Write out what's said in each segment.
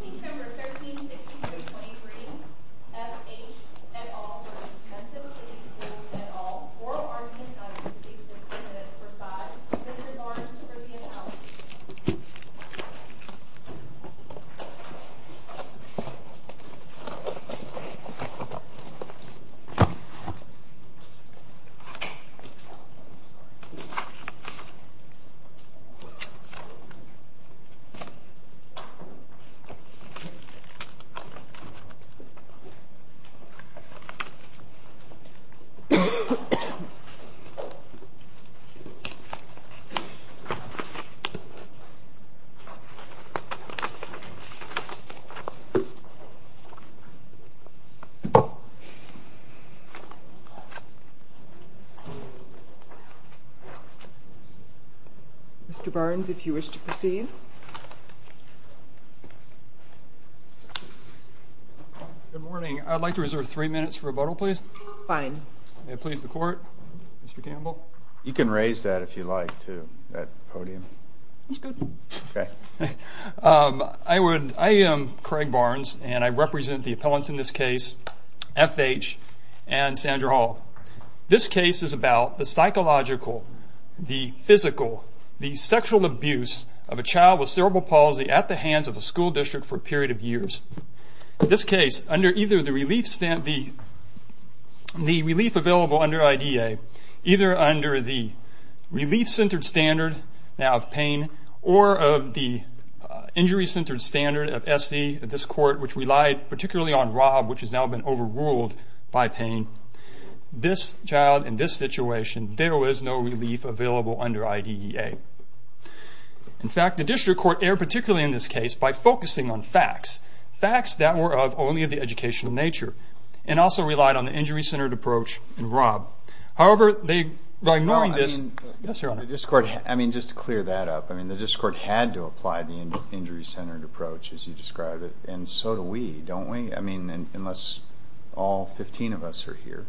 September 13, 1623 FH v. Memphis City Schools September 13, 1623 FH v. Memphis City Schools September 13, 1623 FH v. Memphis City Schools I am Craig Barnes and I represent the appellants in this case, FH and Sandra Hall. This case is about the psychological, the physical, the sexual abuse of a child with cerebral palsy at the hands of a school district for a period of years. In this case, under either the relief available under IDEA, either under the relief-centered standard now of pain, or of the injury-centered standard of SE at this court, which relied particularly on Rob, which has now been overruled by pain, this child in this situation, there was no relief available under IDEA. In fact, the district court erred particularly in this case by focusing on facts, facts that were of only the educational nature, and also relied on the injury-centered approach in Rob. However, by ignoring this... Yes, Your Honor. I mean, just to clear that up, I mean, the district court had to apply the injury-centered approach, as you described it, and so do we, don't we? I mean, unless all 15 of us are here.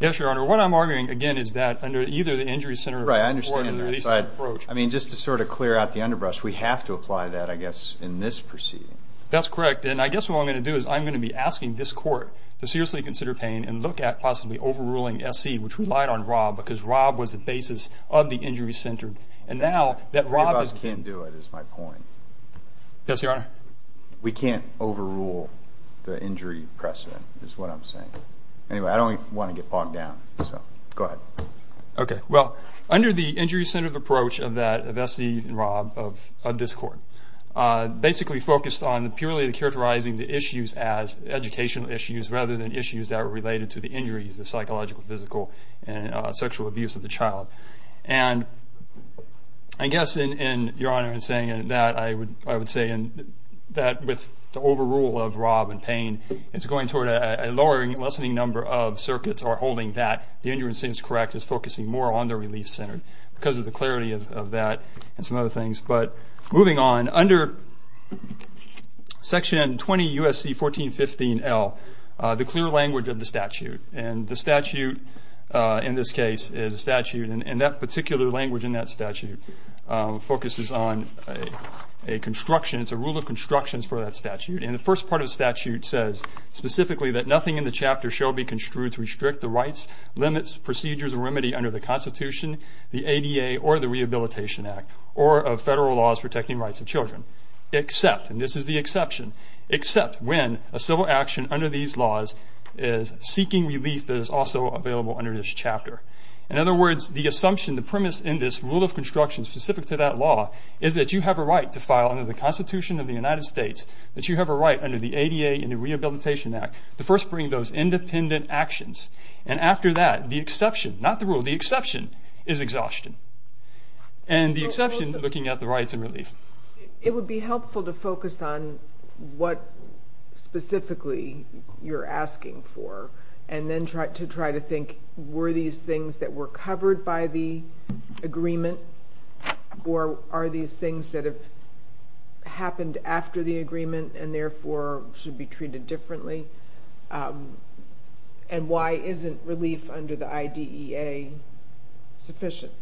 Yes, Your Honor. What I'm arguing, again, is that under either the injury-centered... Right, I understand. I mean, just to sort of clear out the underbrush, we have to apply that, I guess, in this proceeding. That's correct. And I guess what I'm going to do is I'm going to be asking this court to seriously consider pain and look at possibly overruling SE, which relied on Rob, because Rob was the basis of the injury-centered. And now that Rob is... Three of us can't do it, is my point. Yes, Your Honor. We can't overrule the injury precedent, is what I'm saying. Anyway, I don't want to get bogged down, so go ahead. Okay. Well, under the injury-centered approach of SE and Rob of this court, basically focused on purely characterizing the issues as educational issues rather than issues that were related to the injuries, the psychological, physical, and sexual abuse of the child. And I guess, Your Honor, in saying that, I would say that with the overrule of Rob and pain, it's going toward a lowering and lessening number of circuits are holding that. The injury-centered is correct. It's focusing more on the relief-centered because of the clarity of that and some other things. But moving on, under Section 20 U.S.C. 1415L, the clear language of the statute. And the statute in this case is a statute, and that particular language in that statute focuses on a construction. It's a rule of constructions for that statute. And the first part of the statute says, specifically, that nothing in the chapter shall be construed to restrict the rights, limits, procedures, or remedy under the Constitution, the ADA, or the Rehabilitation Act, or of federal laws protecting rights of children. Except, and this is the exception, except when a civil action under these laws is seeking relief that is also available under this chapter. In other words, the assumption, the premise in this rule of construction specific to that law is that you have a right to file under the Constitution of the United States, that you have a right under the ADA and the Rehabilitation Act, to first bring those independent actions. And after that, the exception, not the rule, the exception is exhaustion. And the exception, looking at the rights and relief. It would be helpful to focus on what specifically you're asking for and then to try to think, were these things that were covered by the agreement or are these things that have happened after the agreement and therefore should be treated differently? And why isn't relief under the IDEA sufficient?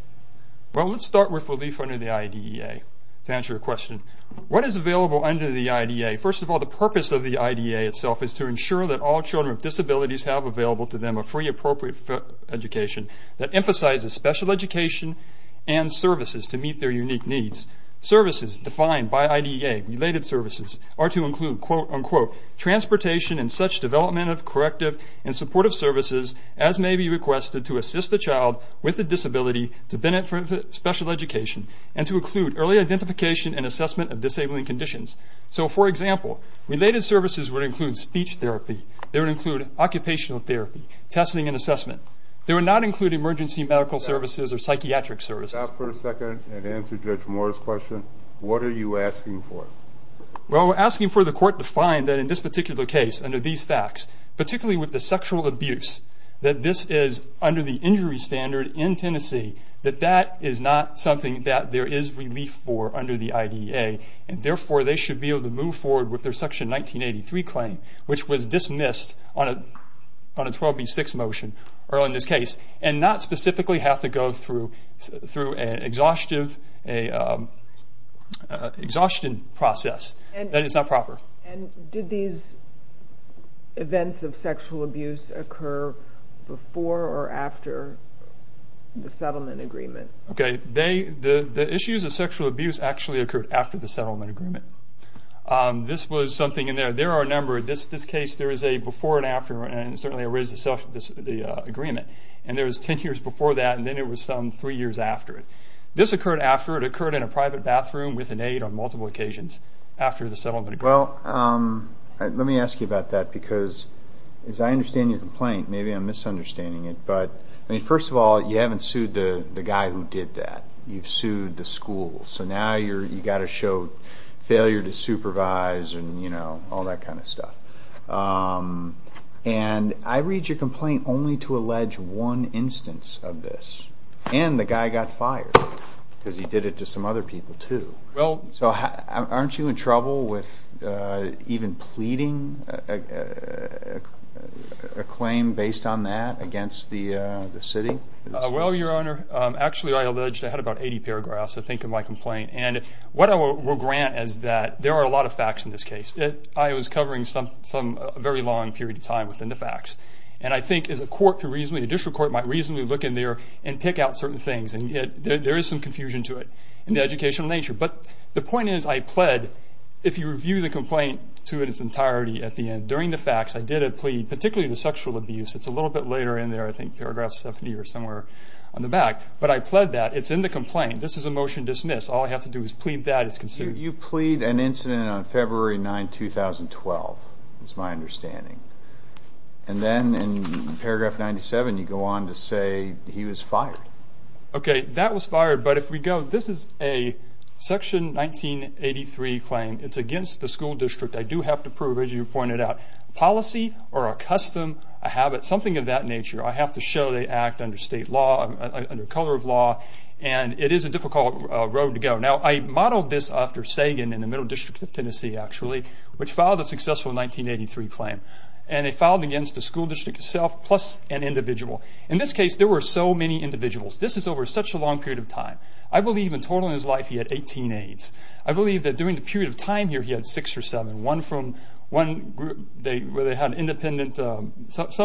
Well, let's start with relief under the IDEA to answer your question. What is available under the IDEA? First of all, the purpose of the IDEA itself is to ensure that all children with disabilities have available to them a free, appropriate education that emphasizes special education and services to meet their unique needs. Services defined by IDEA, related services, are to include, quote, unquote, transportation and such development of corrective and supportive services as may be requested to assist the child with a disability to benefit special education and to include early identification and assessment of disabling conditions. So, for example, related services would include speech therapy. They would include occupational therapy, testing and assessment. They would not include emergency medical services or psychiatric services. Stop for a second and answer Judge Moore's question. What are you asking for? Well, we're asking for the court to find that in this particular case, under these facts, particularly with the sexual abuse, that this is under the injury standard in Tennessee, that that is not something that there is relief for under the IDEA and therefore they should be able to move forward with their Section 1983 claim, which was dismissed on a 12B6 motion, or in this case, and not specifically have to go through an exhaustion process. That is not proper. And did these events of sexual abuse occur before or after the settlement agreement? Okay, the issues of sexual abuse actually occurred after the settlement agreement. This was something in there. There are a number. In this case, there is a before and after, and certainly there is the agreement. And there was ten years before that, and then there was some three years after it. This occurred after. It occurred in a private bathroom with an aide on multiple occasions after the settlement agreement. Well, let me ask you about that because, as I understand your complaint, maybe I'm misunderstanding it, but, I mean, first of all, you haven't sued the guy who did that. You've sued the school. So now you've got to show failure to supervise and, you know, all that kind of stuff. And I read your complaint only to allege one instance of this, and the guy got fired because he did it to some other people too. So aren't you in trouble with even pleading a claim based on that against the city? Well, your Honor, actually I allege I had about 80 paragraphs, I think, in my complaint. And what I will grant is that there are a lot of facts in this case. I was covering some very long period of time within the facts, and I think as a court could reasonably, a district court might reasonably look in there and pick out certain things, and there is some confusion to it in the educational nature. But the point is I pled. If you review the complaint to its entirety at the end, during the facts, I did a plea, particularly the sexual abuse. It's a little bit later in there, I think paragraph 70 or somewhere on the back. But I pled that. It's in the complaint. This is a motion dismissed. All I have to do is plead that. It's considered. You plead an incident on February 9, 2012, is my understanding. And then in paragraph 97 you go on to say he was fired. Okay, that was fired. But if we go, this is a Section 1983 claim. It's against the school district. I do have to prove, as you pointed out, policy or a custom, a habit, something of that nature. I have to show they act under state law, under color of law, and it is a difficult road to go. Now, I modeled this after Sagan in the Middle District of Tennessee, actually, which filed a successful 1983 claim. And it filed against the school district itself plus an individual. In this case, there were so many individuals. This is over such a long period of time. I believe in total in his life he had 18 aides. I believe that during the period of time here he had six or seven. One from one group where they had independent, some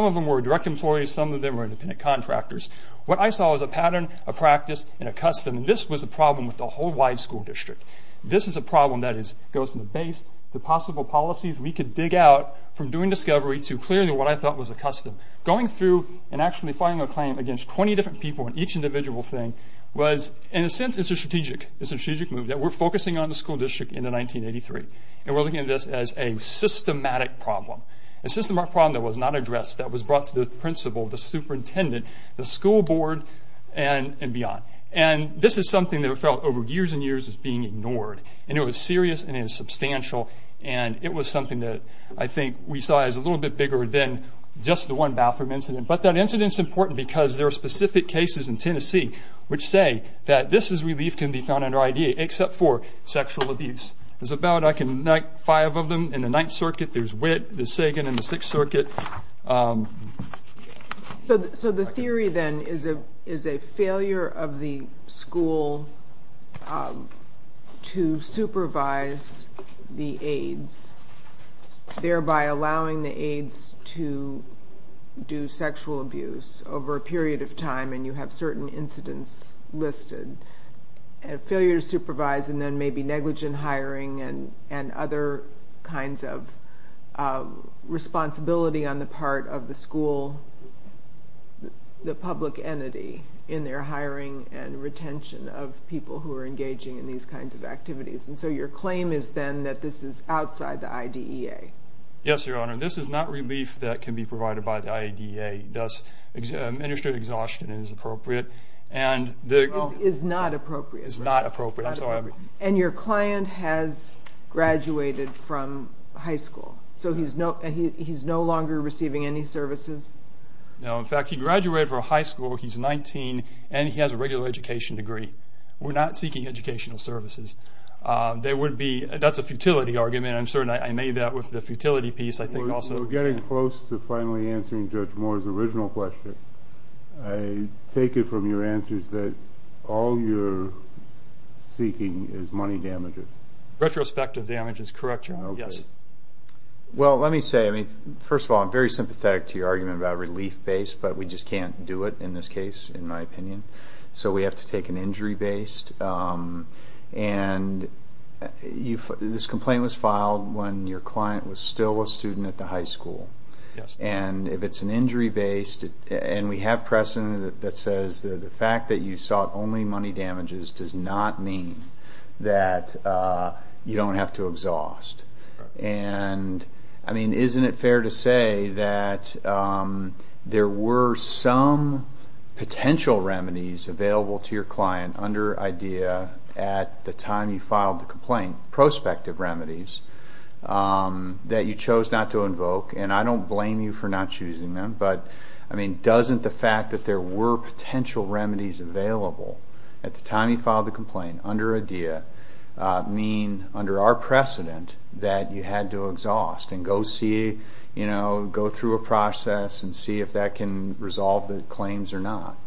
of them were direct employees, some of them were independent contractors. What I saw was a pattern, a practice, and a custom. And this was a problem with the whole wide school district. This is a problem that goes from the base to possible policies we could dig out from doing discovery to clearly what I thought was a custom. Going through and actually filing a claim against 20 different people in each individual thing was, in a sense, it's a strategic move. We're focusing on the school district in 1983. And we're looking at this as a systematic problem, a systematic problem that was not addressed, that was brought to the principal, the superintendent, the school board, and beyond. And this is something that I felt over years and years was being ignored. And it was serious and it was substantial. And it was something that I think we saw as a little bit bigger than just the one bathroom incident. But that incident is important because there are specific cases in Tennessee which say that this is relief can be found under IDEA except for sexual abuse. There's about five of them in the Ninth Circuit. There's Witt, there's Sagan in the Sixth Circuit. So the theory then is a failure of the school to supervise the aides, thereby allowing the aides to do sexual abuse over a period of time and you have certain incidents listed. A failure to supervise and then maybe negligent hiring and other kinds of responsibility on the part of the school, the public entity in their hiring and retention of people who are engaging in these kinds of activities. And so your claim is then that this is outside the IDEA. Yes, Your Honor. This is not relief that can be provided by the IDEA. Administrative exhaustion is appropriate. It's not appropriate. It's not appropriate. I'm sorry. And your client has graduated from high school. So he's no longer receiving any services? No. In fact, he graduated from high school. He's 19 and he has a regular education degree. We're not seeking educational services. That's a futility argument. I made that with the futility piece. We're getting close to finally answering Judge Moore's original question. I take it from your answers that all you're seeking is money damages. Retrospective damage is correct, Your Honor. Well, let me say, first of all, I'm very sympathetic to your argument about relief-based, but we just can't do it in this case, in my opinion. So we have to take an injury-based. And this complaint was filed when your client was still a student at the high school. Yes. And if it's an injury-based, and we have precedent that says the fact that you sought only money damages does not mean that you don't have to exhaust. And, I mean, isn't it fair to say that there were some potential remedies available to your client under IDEA at the time you filed the complaint, prospective remedies, that you chose not to invoke? And I don't blame you for not choosing them. But, I mean, doesn't the fact that there were potential remedies available at the time you filed the complaint under IDEA mean, under our precedent, that you had to exhaust and go through a process and see if that can resolve the claims or not?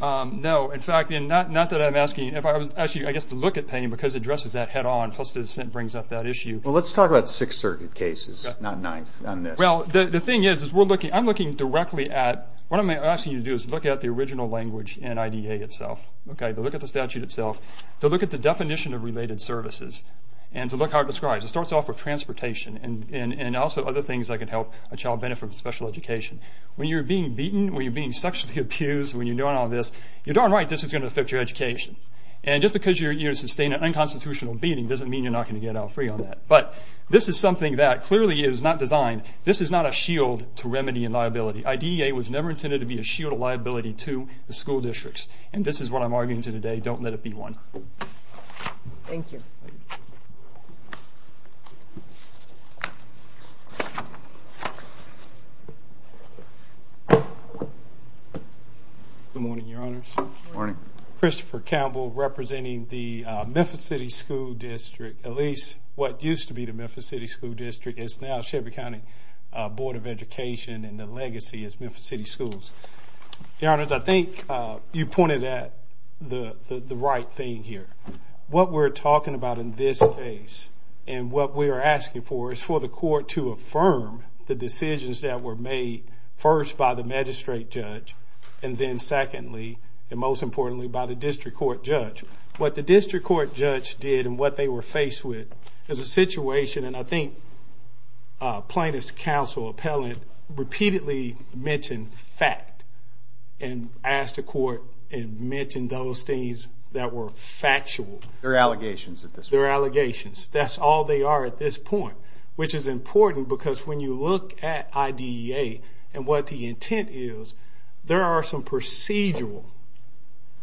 No. In fact, not that I'm asking you. Actually, I guess to look at pain, because it addresses that head-on, plus it brings up that issue. Well, let's talk about Sixth Circuit cases, not this. Well, the thing is, I'm looking directly at, what I'm asking you to do is look at the original language in IDEA itself. Okay? To look at the statute itself, to look at the definition of related services, and to look how it describes. It starts off with transportation and also other things that could help a child benefit from special education. When you're being beaten, when you're being sexually abused, when you're doing all this, you're darn right this is going to affect your education. And just because you're sustained an unconstitutional beating doesn't mean you're not going to get out free on that. But this is something that clearly is not designed. This is not a shield to remedy and liability. IDEA was never intended to be a shield of liability to the school districts. And this is what I'm arguing today. Don't let it be one. Thank you. Good morning, Your Honors. Good morning. Christopher Campbell representing the Memphis City School District, at least what used to be the Memphis City School District. It's now Shelby County Board of Education, and the legacy is Memphis City Schools. Your Honors, I think you pointed at the right thing here. What we're talking about in this case and what we are asking for is for the court to affirm the decisions that were made first by the magistrate judge and then secondly, and most importantly, by the district court judge. What the district court judge did and what they were faced with is a situation, and I think plaintiff's counsel repeatedly mentioned fact and asked the court and mentioned those things that were factual. They're allegations at this point. They're allegations. That's all they are at this point, which is important because when you look at IDEA and what the intent is, there are some procedural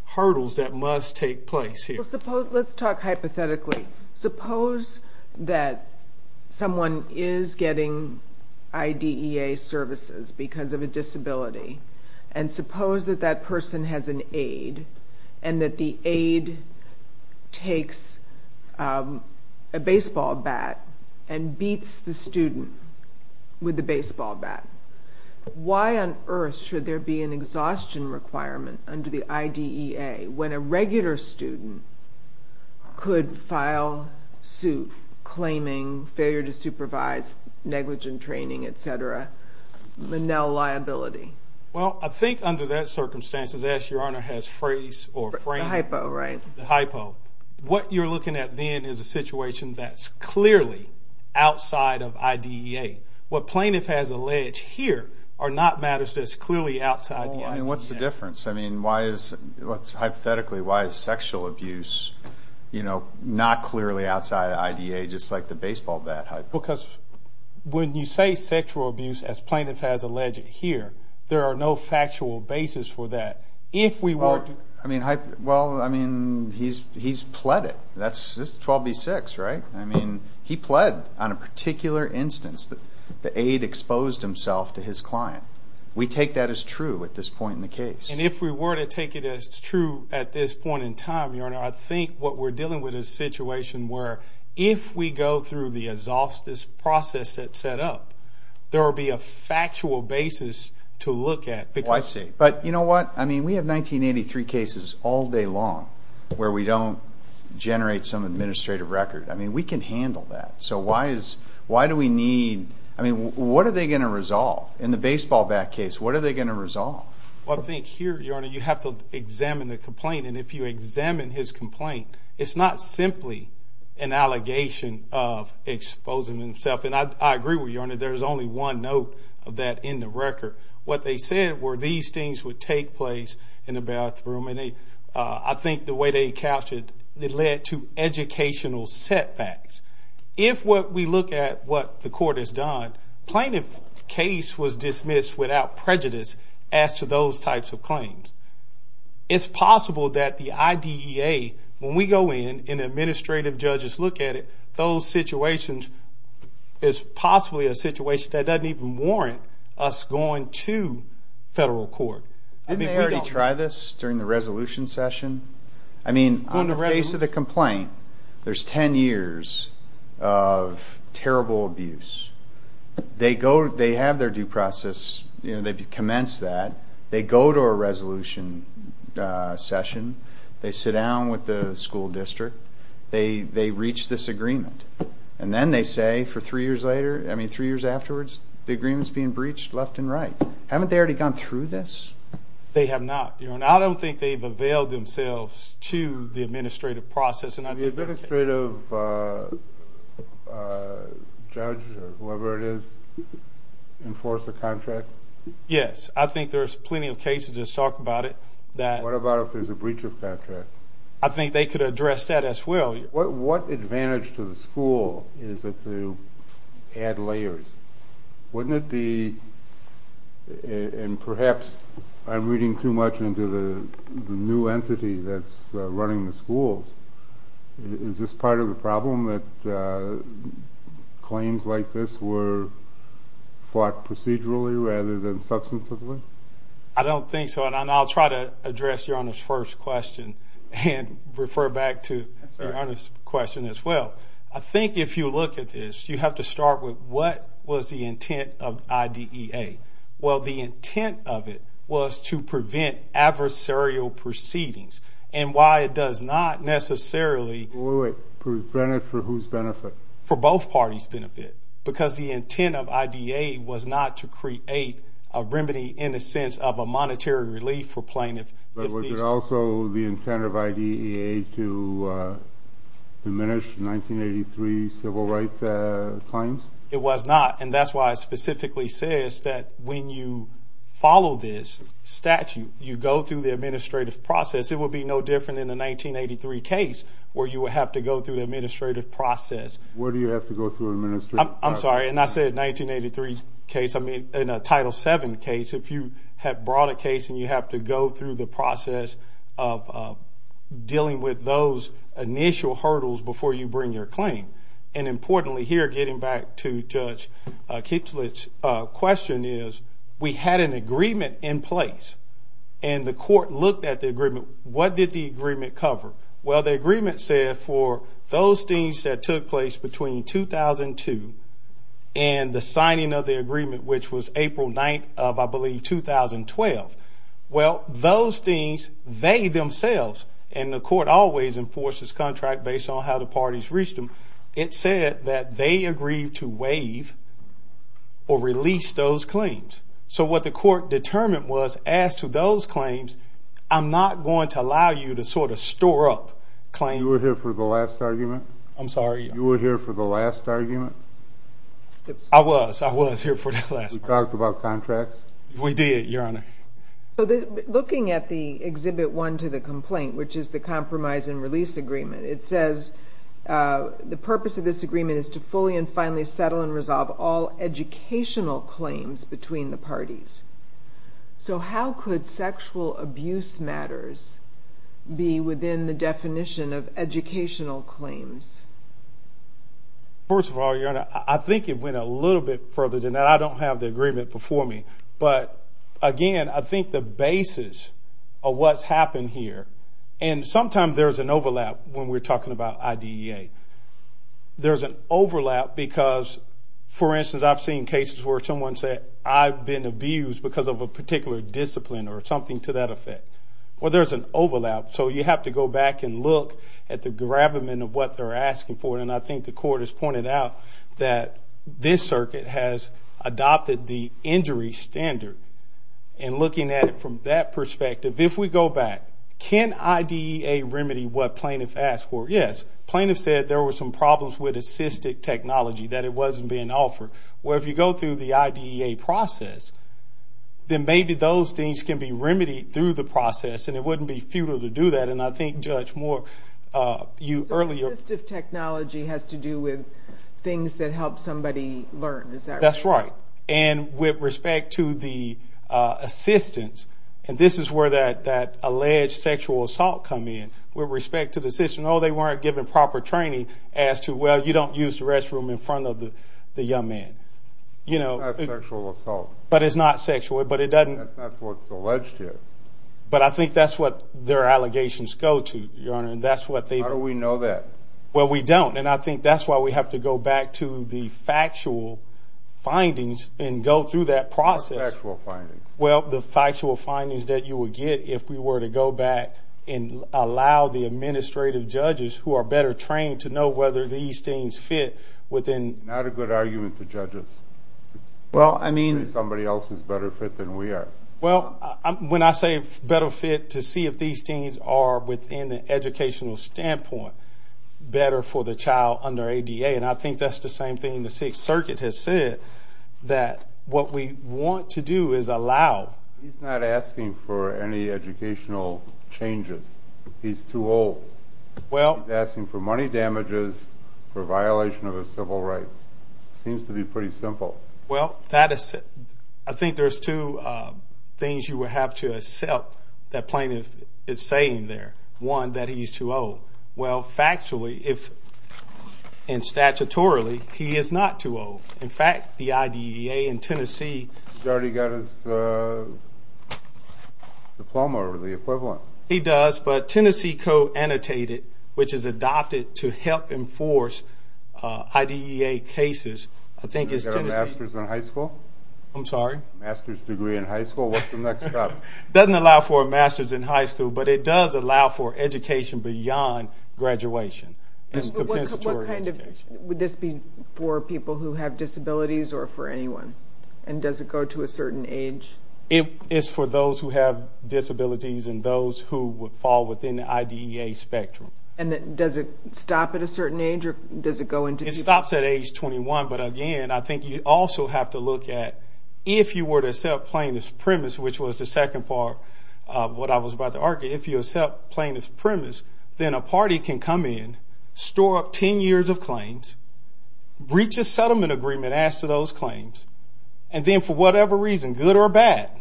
hurdles that must take place here. Let's talk hypothetically. Suppose that someone is getting IDEA services because of a disability, and suppose that that person has an aide and that the aide takes a baseball bat and beats the student with the baseball bat. Why on earth should there be an exhaustion requirement under the IDEA when a regular student could file suit claiming failure to supervise, negligent training, et cetera, manel liability? Well, I think under that circumstance, as Your Honor has phrased or framed the hypo, what you're looking at then is a situation that's clearly outside of IDEA. What plaintiff has alleged here are not matters that's clearly outside the IDEA. What's the difference? I mean, hypothetically, why is sexual abuse not clearly outside of IDEA, just like the baseball bat hypo? Because when you say sexual abuse, as plaintiff has alleged here, there are no factual basis for that. Well, I mean, he's pled it. This is 12b-6, right? I mean, he pled on a particular instance. The aide exposed himself to his client. We take that as true at this point in the case. And if we were to take it as true at this point in time, Your Honor, I think what we're dealing with is a situation where if we go through the process that's set up, there will be a factual basis to look at. I see. But you know what? I mean, we have 1983 cases all day long where we don't generate some administrative record. I mean, we can handle that. So why do we need – I mean, what are they going to resolve? In the baseball bat case, what are they going to resolve? Well, I think here, Your Honor, you have to examine the complaint. And if you examine his complaint, it's not simply an allegation of exposing himself. And I agree with you, Your Honor. There's only one note of that in the record. What they said were these things would take place in the bathroom. And I think the way they couched it, it led to educational setbacks. If we look at what the court has done, plaintiff's case was dismissed without prejudice as to those types of claims. It's possible that the IDEA, when we go in and administrative judges look at it, those situations is possibly a situation that doesn't even warrant us going to federal court. Didn't they already try this during the resolution session? I mean, on the face of the complaint, there's 10 years of terrible abuse. They have their due process. They've commenced that. They go to a resolution session. They sit down with the school district. They reach this agreement. And then they say for three years later, I mean three years afterwards, the agreement's being breached left and right. Haven't they already gone through this? They have not, Your Honor. I don't think they've availed themselves to the administrative process. Did the administrative judge or whoever it is enforce the contract? Yes. I think there's plenty of cases that talk about it. What about if there's a breach of contract? I think they could address that as well. What advantage to the school is it to add layers? Wouldn't it be, and perhaps I'm reading too much into the new entity that's running the schools, is this part of the problem that claims like this were fought procedurally rather than substantively? I don't think so. I'll try to address Your Honor's first question and refer back to Your Honor's question as well. I think if you look at this, you have to start with what was the intent of IDEA. Well, the intent of it was to prevent adversarial proceedings. And why it does not necessarily. Wait, for whose benefit? For both parties' benefit. Because the intent of IDEA was not to create a remedy in the sense of a monetary relief for plaintiffs. But was it also the intent of IDEA to diminish 1983 civil rights claims? It was not, and that's why it specifically says that when you follow this statute, you go through the administrative process. It would be no different in the 1983 case where you would have to go through the administrative process. Where do you have to go through the administrative process? I'm sorry, and I said 1983 case. I mean, in a Title VII case, if you have brought a case and you have to go through the process of dealing with those initial hurdles before you bring your claim. And importantly here, getting back to Judge Kichler's question, is we had an agreement in place. And the court looked at the agreement. What did the agreement cover? Well, the agreement said for those things that took place between 2002 and the signing of the agreement, which was April 9th of, I believe, 2012. Well, those things, they themselves, and the court always enforces contracts based on how the parties reached them. It said that they agreed to waive or release those claims. So what the court determined was, as to those claims, I'm not going to allow you to sort of store up claims. You were here for the last argument? I'm sorry? You were here for the last argument? I was. I was here for the last argument. You talked about contracts? We did, Your Honor. Looking at the Exhibit 1 to the complaint, which is the Compromise and Release Agreement, it says the purpose of this agreement is to fully and finally settle and resolve all educational claims between the parties. So how could sexual abuse matters be within the definition of educational claims? First of all, Your Honor, I think it went a little bit further than that. I don't have the agreement before me. But again, I think the basis of what's happened here, and sometimes there's an overlap when we're talking about IDEA. There's an overlap because, for instance, I've seen cases where someone said, I've been abused because of a particular discipline or something to that effect. Well, there's an overlap. So you have to go back and look at the gravamen of what they're asking for, and I think the court has pointed out that this circuit has adopted the injury standard. And looking at it from that perspective, if we go back, can IDEA remedy what plaintiff asked for? Yes. Plaintiff said there were some problems with assistive technology, that it wasn't being offered. Well, if you go through the IDEA process, then maybe those things can be remedied through the process, and it wouldn't be futile to do that. And I think, Judge Moore, you earlier... So assistive technology has to do with things that help somebody learn. Is that right? That's right. And with respect to the assistance, and this is where that alleged sexual assault come in, with respect to the system, oh, they weren't given proper training as to, well, you don't use the restroom in front of the young man. That's sexual assault. But it's not sexual, but it doesn't... That's not what's alleged here. But I think that's what their allegations go to, Your Honor, and that's what they... How do we know that? Well, we don't, and I think that's why we have to go back to the factual findings and go through that process. What factual findings? Well, the factual findings that you would get if we were to go back and allow the administrative judges who are better trained to know whether these things fit within... Not a good argument to judges. Well, I mean... Somebody else is better fit than we are. Well, when I say better fit, to see if these things are within the educational standpoint, better for the child under ADA, and I think that's the same thing the Sixth Circuit has said, that what we want to do is allow... He's not asking for any educational changes. He's too old. He's asking for money damages for violation of his civil rights. It seems to be pretty simple. Well, I think there's two things you would have to accept that plaintiff is saying there. One, that he's too old. Well, factually and statutorily, he is not too old. In fact, the IDEA in Tennessee... He's already got his diploma or the equivalent. He does, but Tennessee code annotated, which is adopted to help enforce IDEA cases, I think is Tennessee... He's got a master's in high school? I'm sorry? Master's degree in high school. What's the next step? It doesn't allow for a master's in high school, but it does allow for education beyond graduation and compensatory education. Would this be for people who have disabilities or for anyone? And does it go to a certain age? It's for those who have disabilities and those who would fall within the IDEA spectrum. And does it stop at a certain age, or does it go into... It stops at age 21, but, again, I think you also have to look at, if you were to accept plaintiff's premise, which was the second part of what I was about to argue, if you accept plaintiff's premise, then a party can come in, store up 10 years of claims, reach a settlement agreement, ask for those claims, and then for whatever reason, good or bad,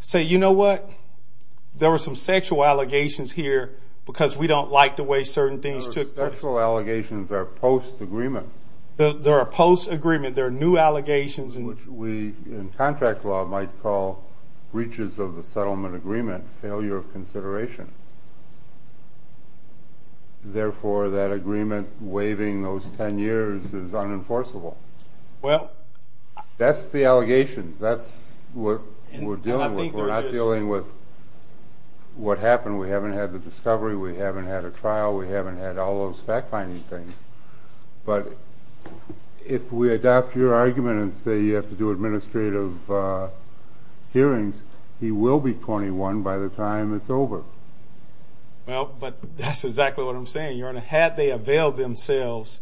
say, you know what, there were some sexual allegations here because we don't like the way certain things took place. The sexual allegations are post-agreement. They're a post-agreement. They're new allegations. Which we, in contract law, might call breaches of the settlement agreement, failure of consideration. Therefore, that agreement waiving those 10 years is unenforceable. Well... That's the allegations. That's what we're dealing with. We're not dealing with what happened. We haven't had the discovery. We haven't had a trial. We haven't had all those fact-finding things. But if we adopt your argument and say you have to do administrative hearings, he will be 21 by the time it's over. Well, but that's exactly what I'm saying, Your Honor. Had they availed themselves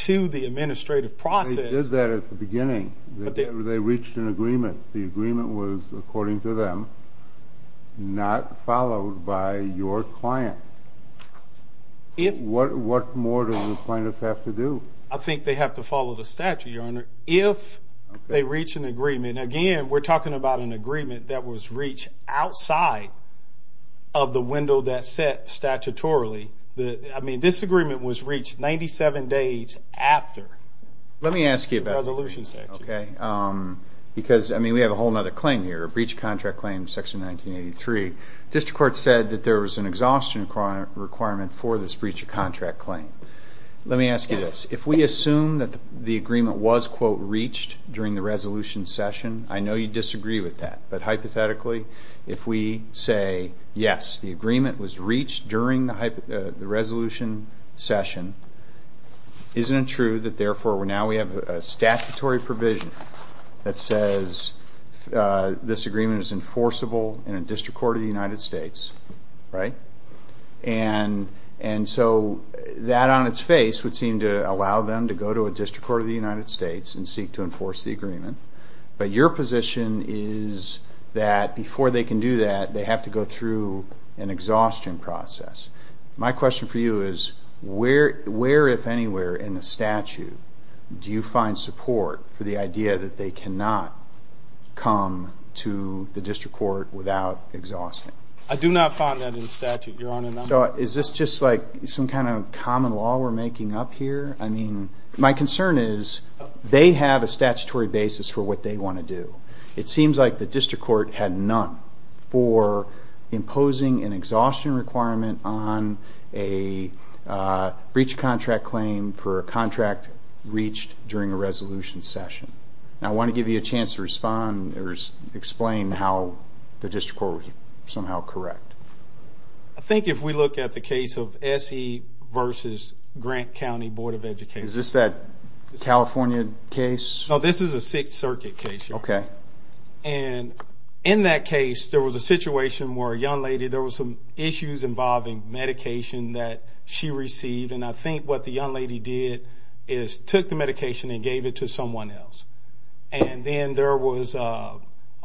to the administrative process... They reached an agreement. The agreement was, according to them, not followed by your client. What more do the plaintiffs have to do? I think they have to follow the statute, Your Honor. If they reach an agreement, again, we're talking about an agreement that was reached outside of the window that's set statutorily. I mean, this agreement was reached 97 days after the resolution section. Because, I mean, we have a whole other claim here, a breach of contract claim, Section 1983. District Court said that there was an exhaustion requirement for this breach of contract claim. Let me ask you this. If we assume that the agreement was, quote, reached during the resolution session, I know you disagree with that. But hypothetically, if we say, yes, the agreement was reached during the resolution session, isn't it true that, therefore, now we have a statutory provision that says this agreement is enforceable in a District Court of the United States? Right? And so that on its face would seem to allow them to go to a District Court of the United States and seek to enforce the agreement. But your position is that before they can do that, they have to go through an exhaustion process. My question for you is where, if anywhere, in the statute do you find support for the idea that they cannot come to the District Court without exhausting? I do not find that in the statute, Your Honor. So is this just like some kind of common law we're making up here? I mean, my concern is they have a statutory basis for what they want to do. It seems like the District Court had none for imposing an exhaustion requirement on a breach of contract claim for a contract reached during a resolution session. Now, I want to give you a chance to respond or explain how the District Court was somehow correct. I think if we look at the case of S.E. versus Grant County Board of Education. Is this that California case? No, this is a Sixth Circuit case, Your Honor. Okay. And in that case, there was a situation where a young lady, there was some issues involving medication that she received. And I think what the young lady did is took the medication and gave it to someone else. And then there was a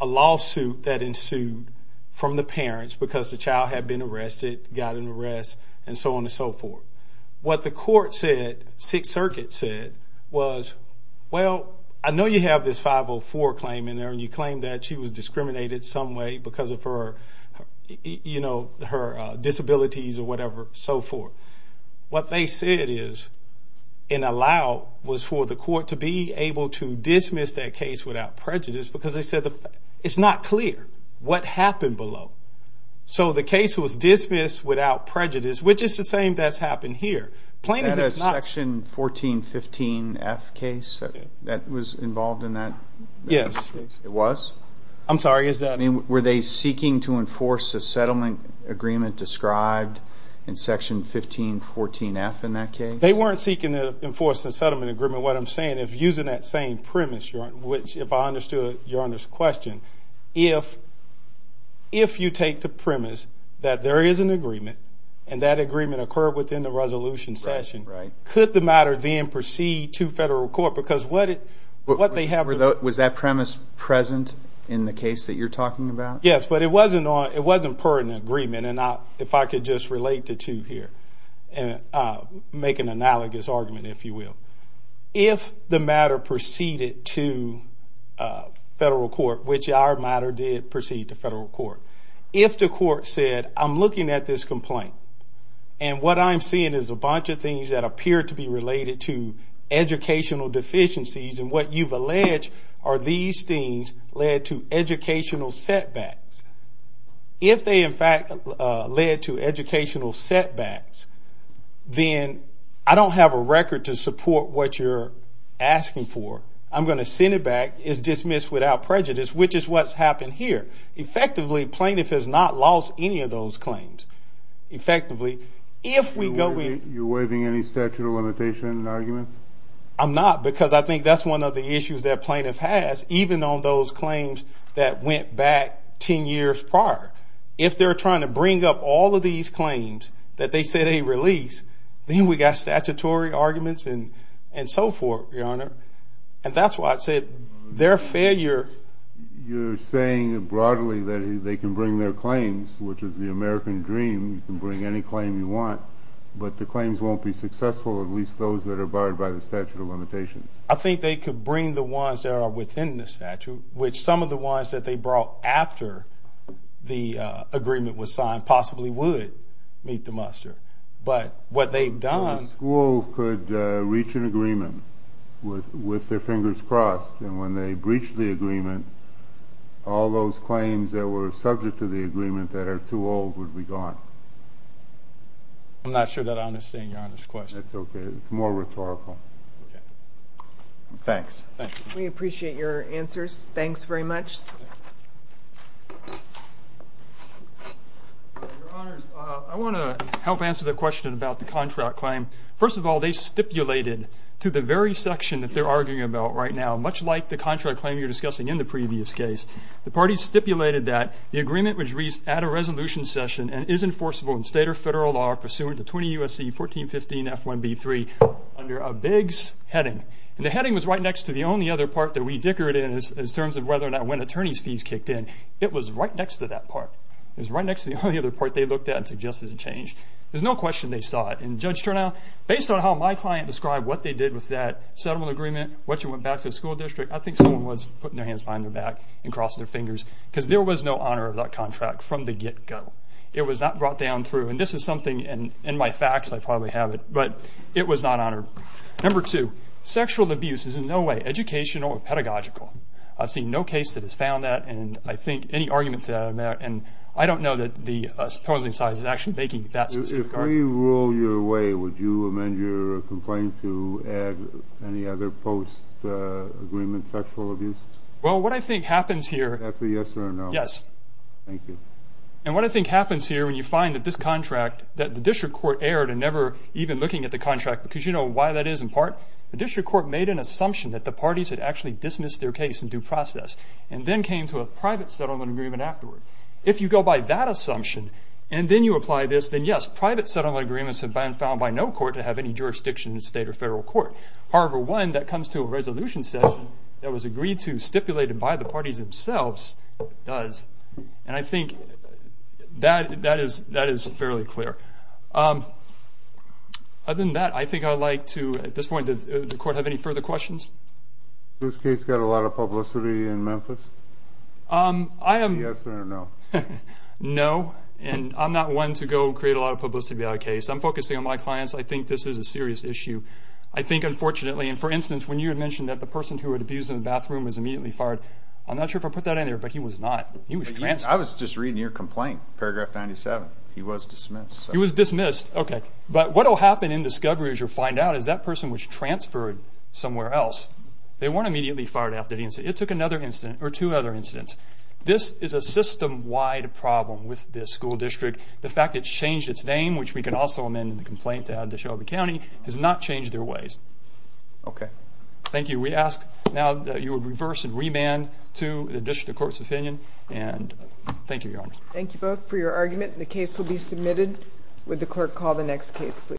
lawsuit that ensued from the parents because the child had been arrested, got an arrest, and so on and so forth. What the court said, Sixth Circuit said, was, well, I know you have this 504 claim in there, and you claim that she was discriminated some way because of her, you know, her disabilities or whatever, so forth. What they said is and allowed was for the court to be able to dismiss that case without prejudice because they said it's not clear what happened below. So the case was dismissed without prejudice, which is the same that's happened here. That is Section 1415F case that was involved in that? Yes. It was? I'm sorry, is that? I mean, were they seeking to enforce the settlement agreement described in Section 1514F in that case? They weren't seeking to enforce the settlement agreement. If using that same premise, which if I understood Your Honor's question, if you take the premise that there is an agreement and that agreement occurred within the resolution session, could the matter then proceed to federal court? Was that premise present in the case that you're talking about? Yes, but it wasn't per an agreement, and if I could just relate the two here and make an analogous argument, if you will. If the matter proceeded to federal court, which our matter did proceed to federal court, if the court said I'm looking at this complaint and what I'm seeing is a bunch of things that appear to be related to educational deficiencies, and what you've alleged are these things led to educational setbacks. If they in fact led to educational setbacks, then I don't have a record to support what you're asking for. I'm going to send it back. It's dismissed without prejudice, which is what's happened here. Effectively, plaintiff has not lost any of those claims. Effectively, if we go back. You're waiving any statute of limitation arguments? I'm not, because I think that's one of the issues that plaintiff has, even on those claims that went back 10 years prior. If they're trying to bring up all of these claims that they say they release, then we've got statutory arguments and so forth, Your Honor. And that's why I said their failure. You're saying broadly that they can bring their claims, which is the American dream. You can bring any claim you want, but the claims won't be successful, at least those that are barred by the statute of limitations. I think they could bring the ones that are within the statute, which some of the ones that they brought after the agreement was signed possibly would meet the muster. Schools could reach an agreement with their fingers crossed, and when they breach the agreement, all those claims that were subject to the agreement that are too old would be gone. I'm not sure that I understand Your Honor's question. That's okay. It's more rhetorical. Thanks. We appreciate your answers. Thanks very much. Your Honors, I want to help answer the question about the contract claim. First of all, they stipulated to the very section that they're arguing about right now, much like the contract claim you were discussing in the previous case, the parties stipulated that the agreement was reached at a resolution session and is enforceable in state or federal law pursuant to 20 U.S.C. 1415 F1B3 under a Biggs heading. And the heading was right next to the only other part that we dickered in in terms of whether or not when attorney's fees kicked in. It was right next to that part. It was right next to the only other part they looked at and suggested a change. There's no question they saw it. And Judge Turnow, based on how my client described what they did with that settlement agreement, what you went back to the school district, I think someone was putting their hands behind their back and crossing their fingers because there was no honor of that contract from the get-go. It was not brought down through. And this is something, and in my facts I probably have it, but it was not honored. Number two, sexual abuse is in no way educational or pedagogical. I've seen no case that has found that, and I think any argument to that amount. And I don't know that the opposing side is actually making that specific argument. If we rule your way, would you amend your complaint to add any other post-agreement sexual abuse? Well, what I think happens here. Is that a yes or a no? Yes. Thank you. And what I think happens here when you find that this contract, that the district court erred in never even looking at the contract, because you know why that is in part. The district court made an assumption that the parties had actually dismissed their case in due process and then came to a private settlement agreement afterward. If you go by that assumption and then you apply this, then yes, private settlement agreements have been found by no court to have any jurisdiction in the state or federal court. However, one that comes to a resolution session that was agreed to, stipulated by the parties themselves, does. And I think that is fairly clear. Other than that, I think I'd like to, at this point, does the court have any further questions? Has this case got a lot of publicity in Memphis? Yes or no? No, and I'm not one to go create a lot of publicity about a case. I'm focusing on my clients. I think this is a serious issue. I think, unfortunately, and for instance, when you had mentioned that the person who had abused in the bathroom was immediately fired, I'm not sure if I put that in there, but he was not. I was just reading your complaint, paragraph 97. He was dismissed. He was dismissed. Okay. But what will happen in discovery as you find out is that person was transferred somewhere else. They weren't immediately fired after the incident. It took another incident or two other incidents. This is a system-wide problem with this school district. The fact it's changed its name, which we can also amend in the complaint to add to Shelby County, has not changed their ways. Okay. Thank you. We ask now that you would reverse and remand to the court's opinion, and thank you, Your Honor. Thank you both for your argument. The case will be submitted. Would the clerk call the next case, please?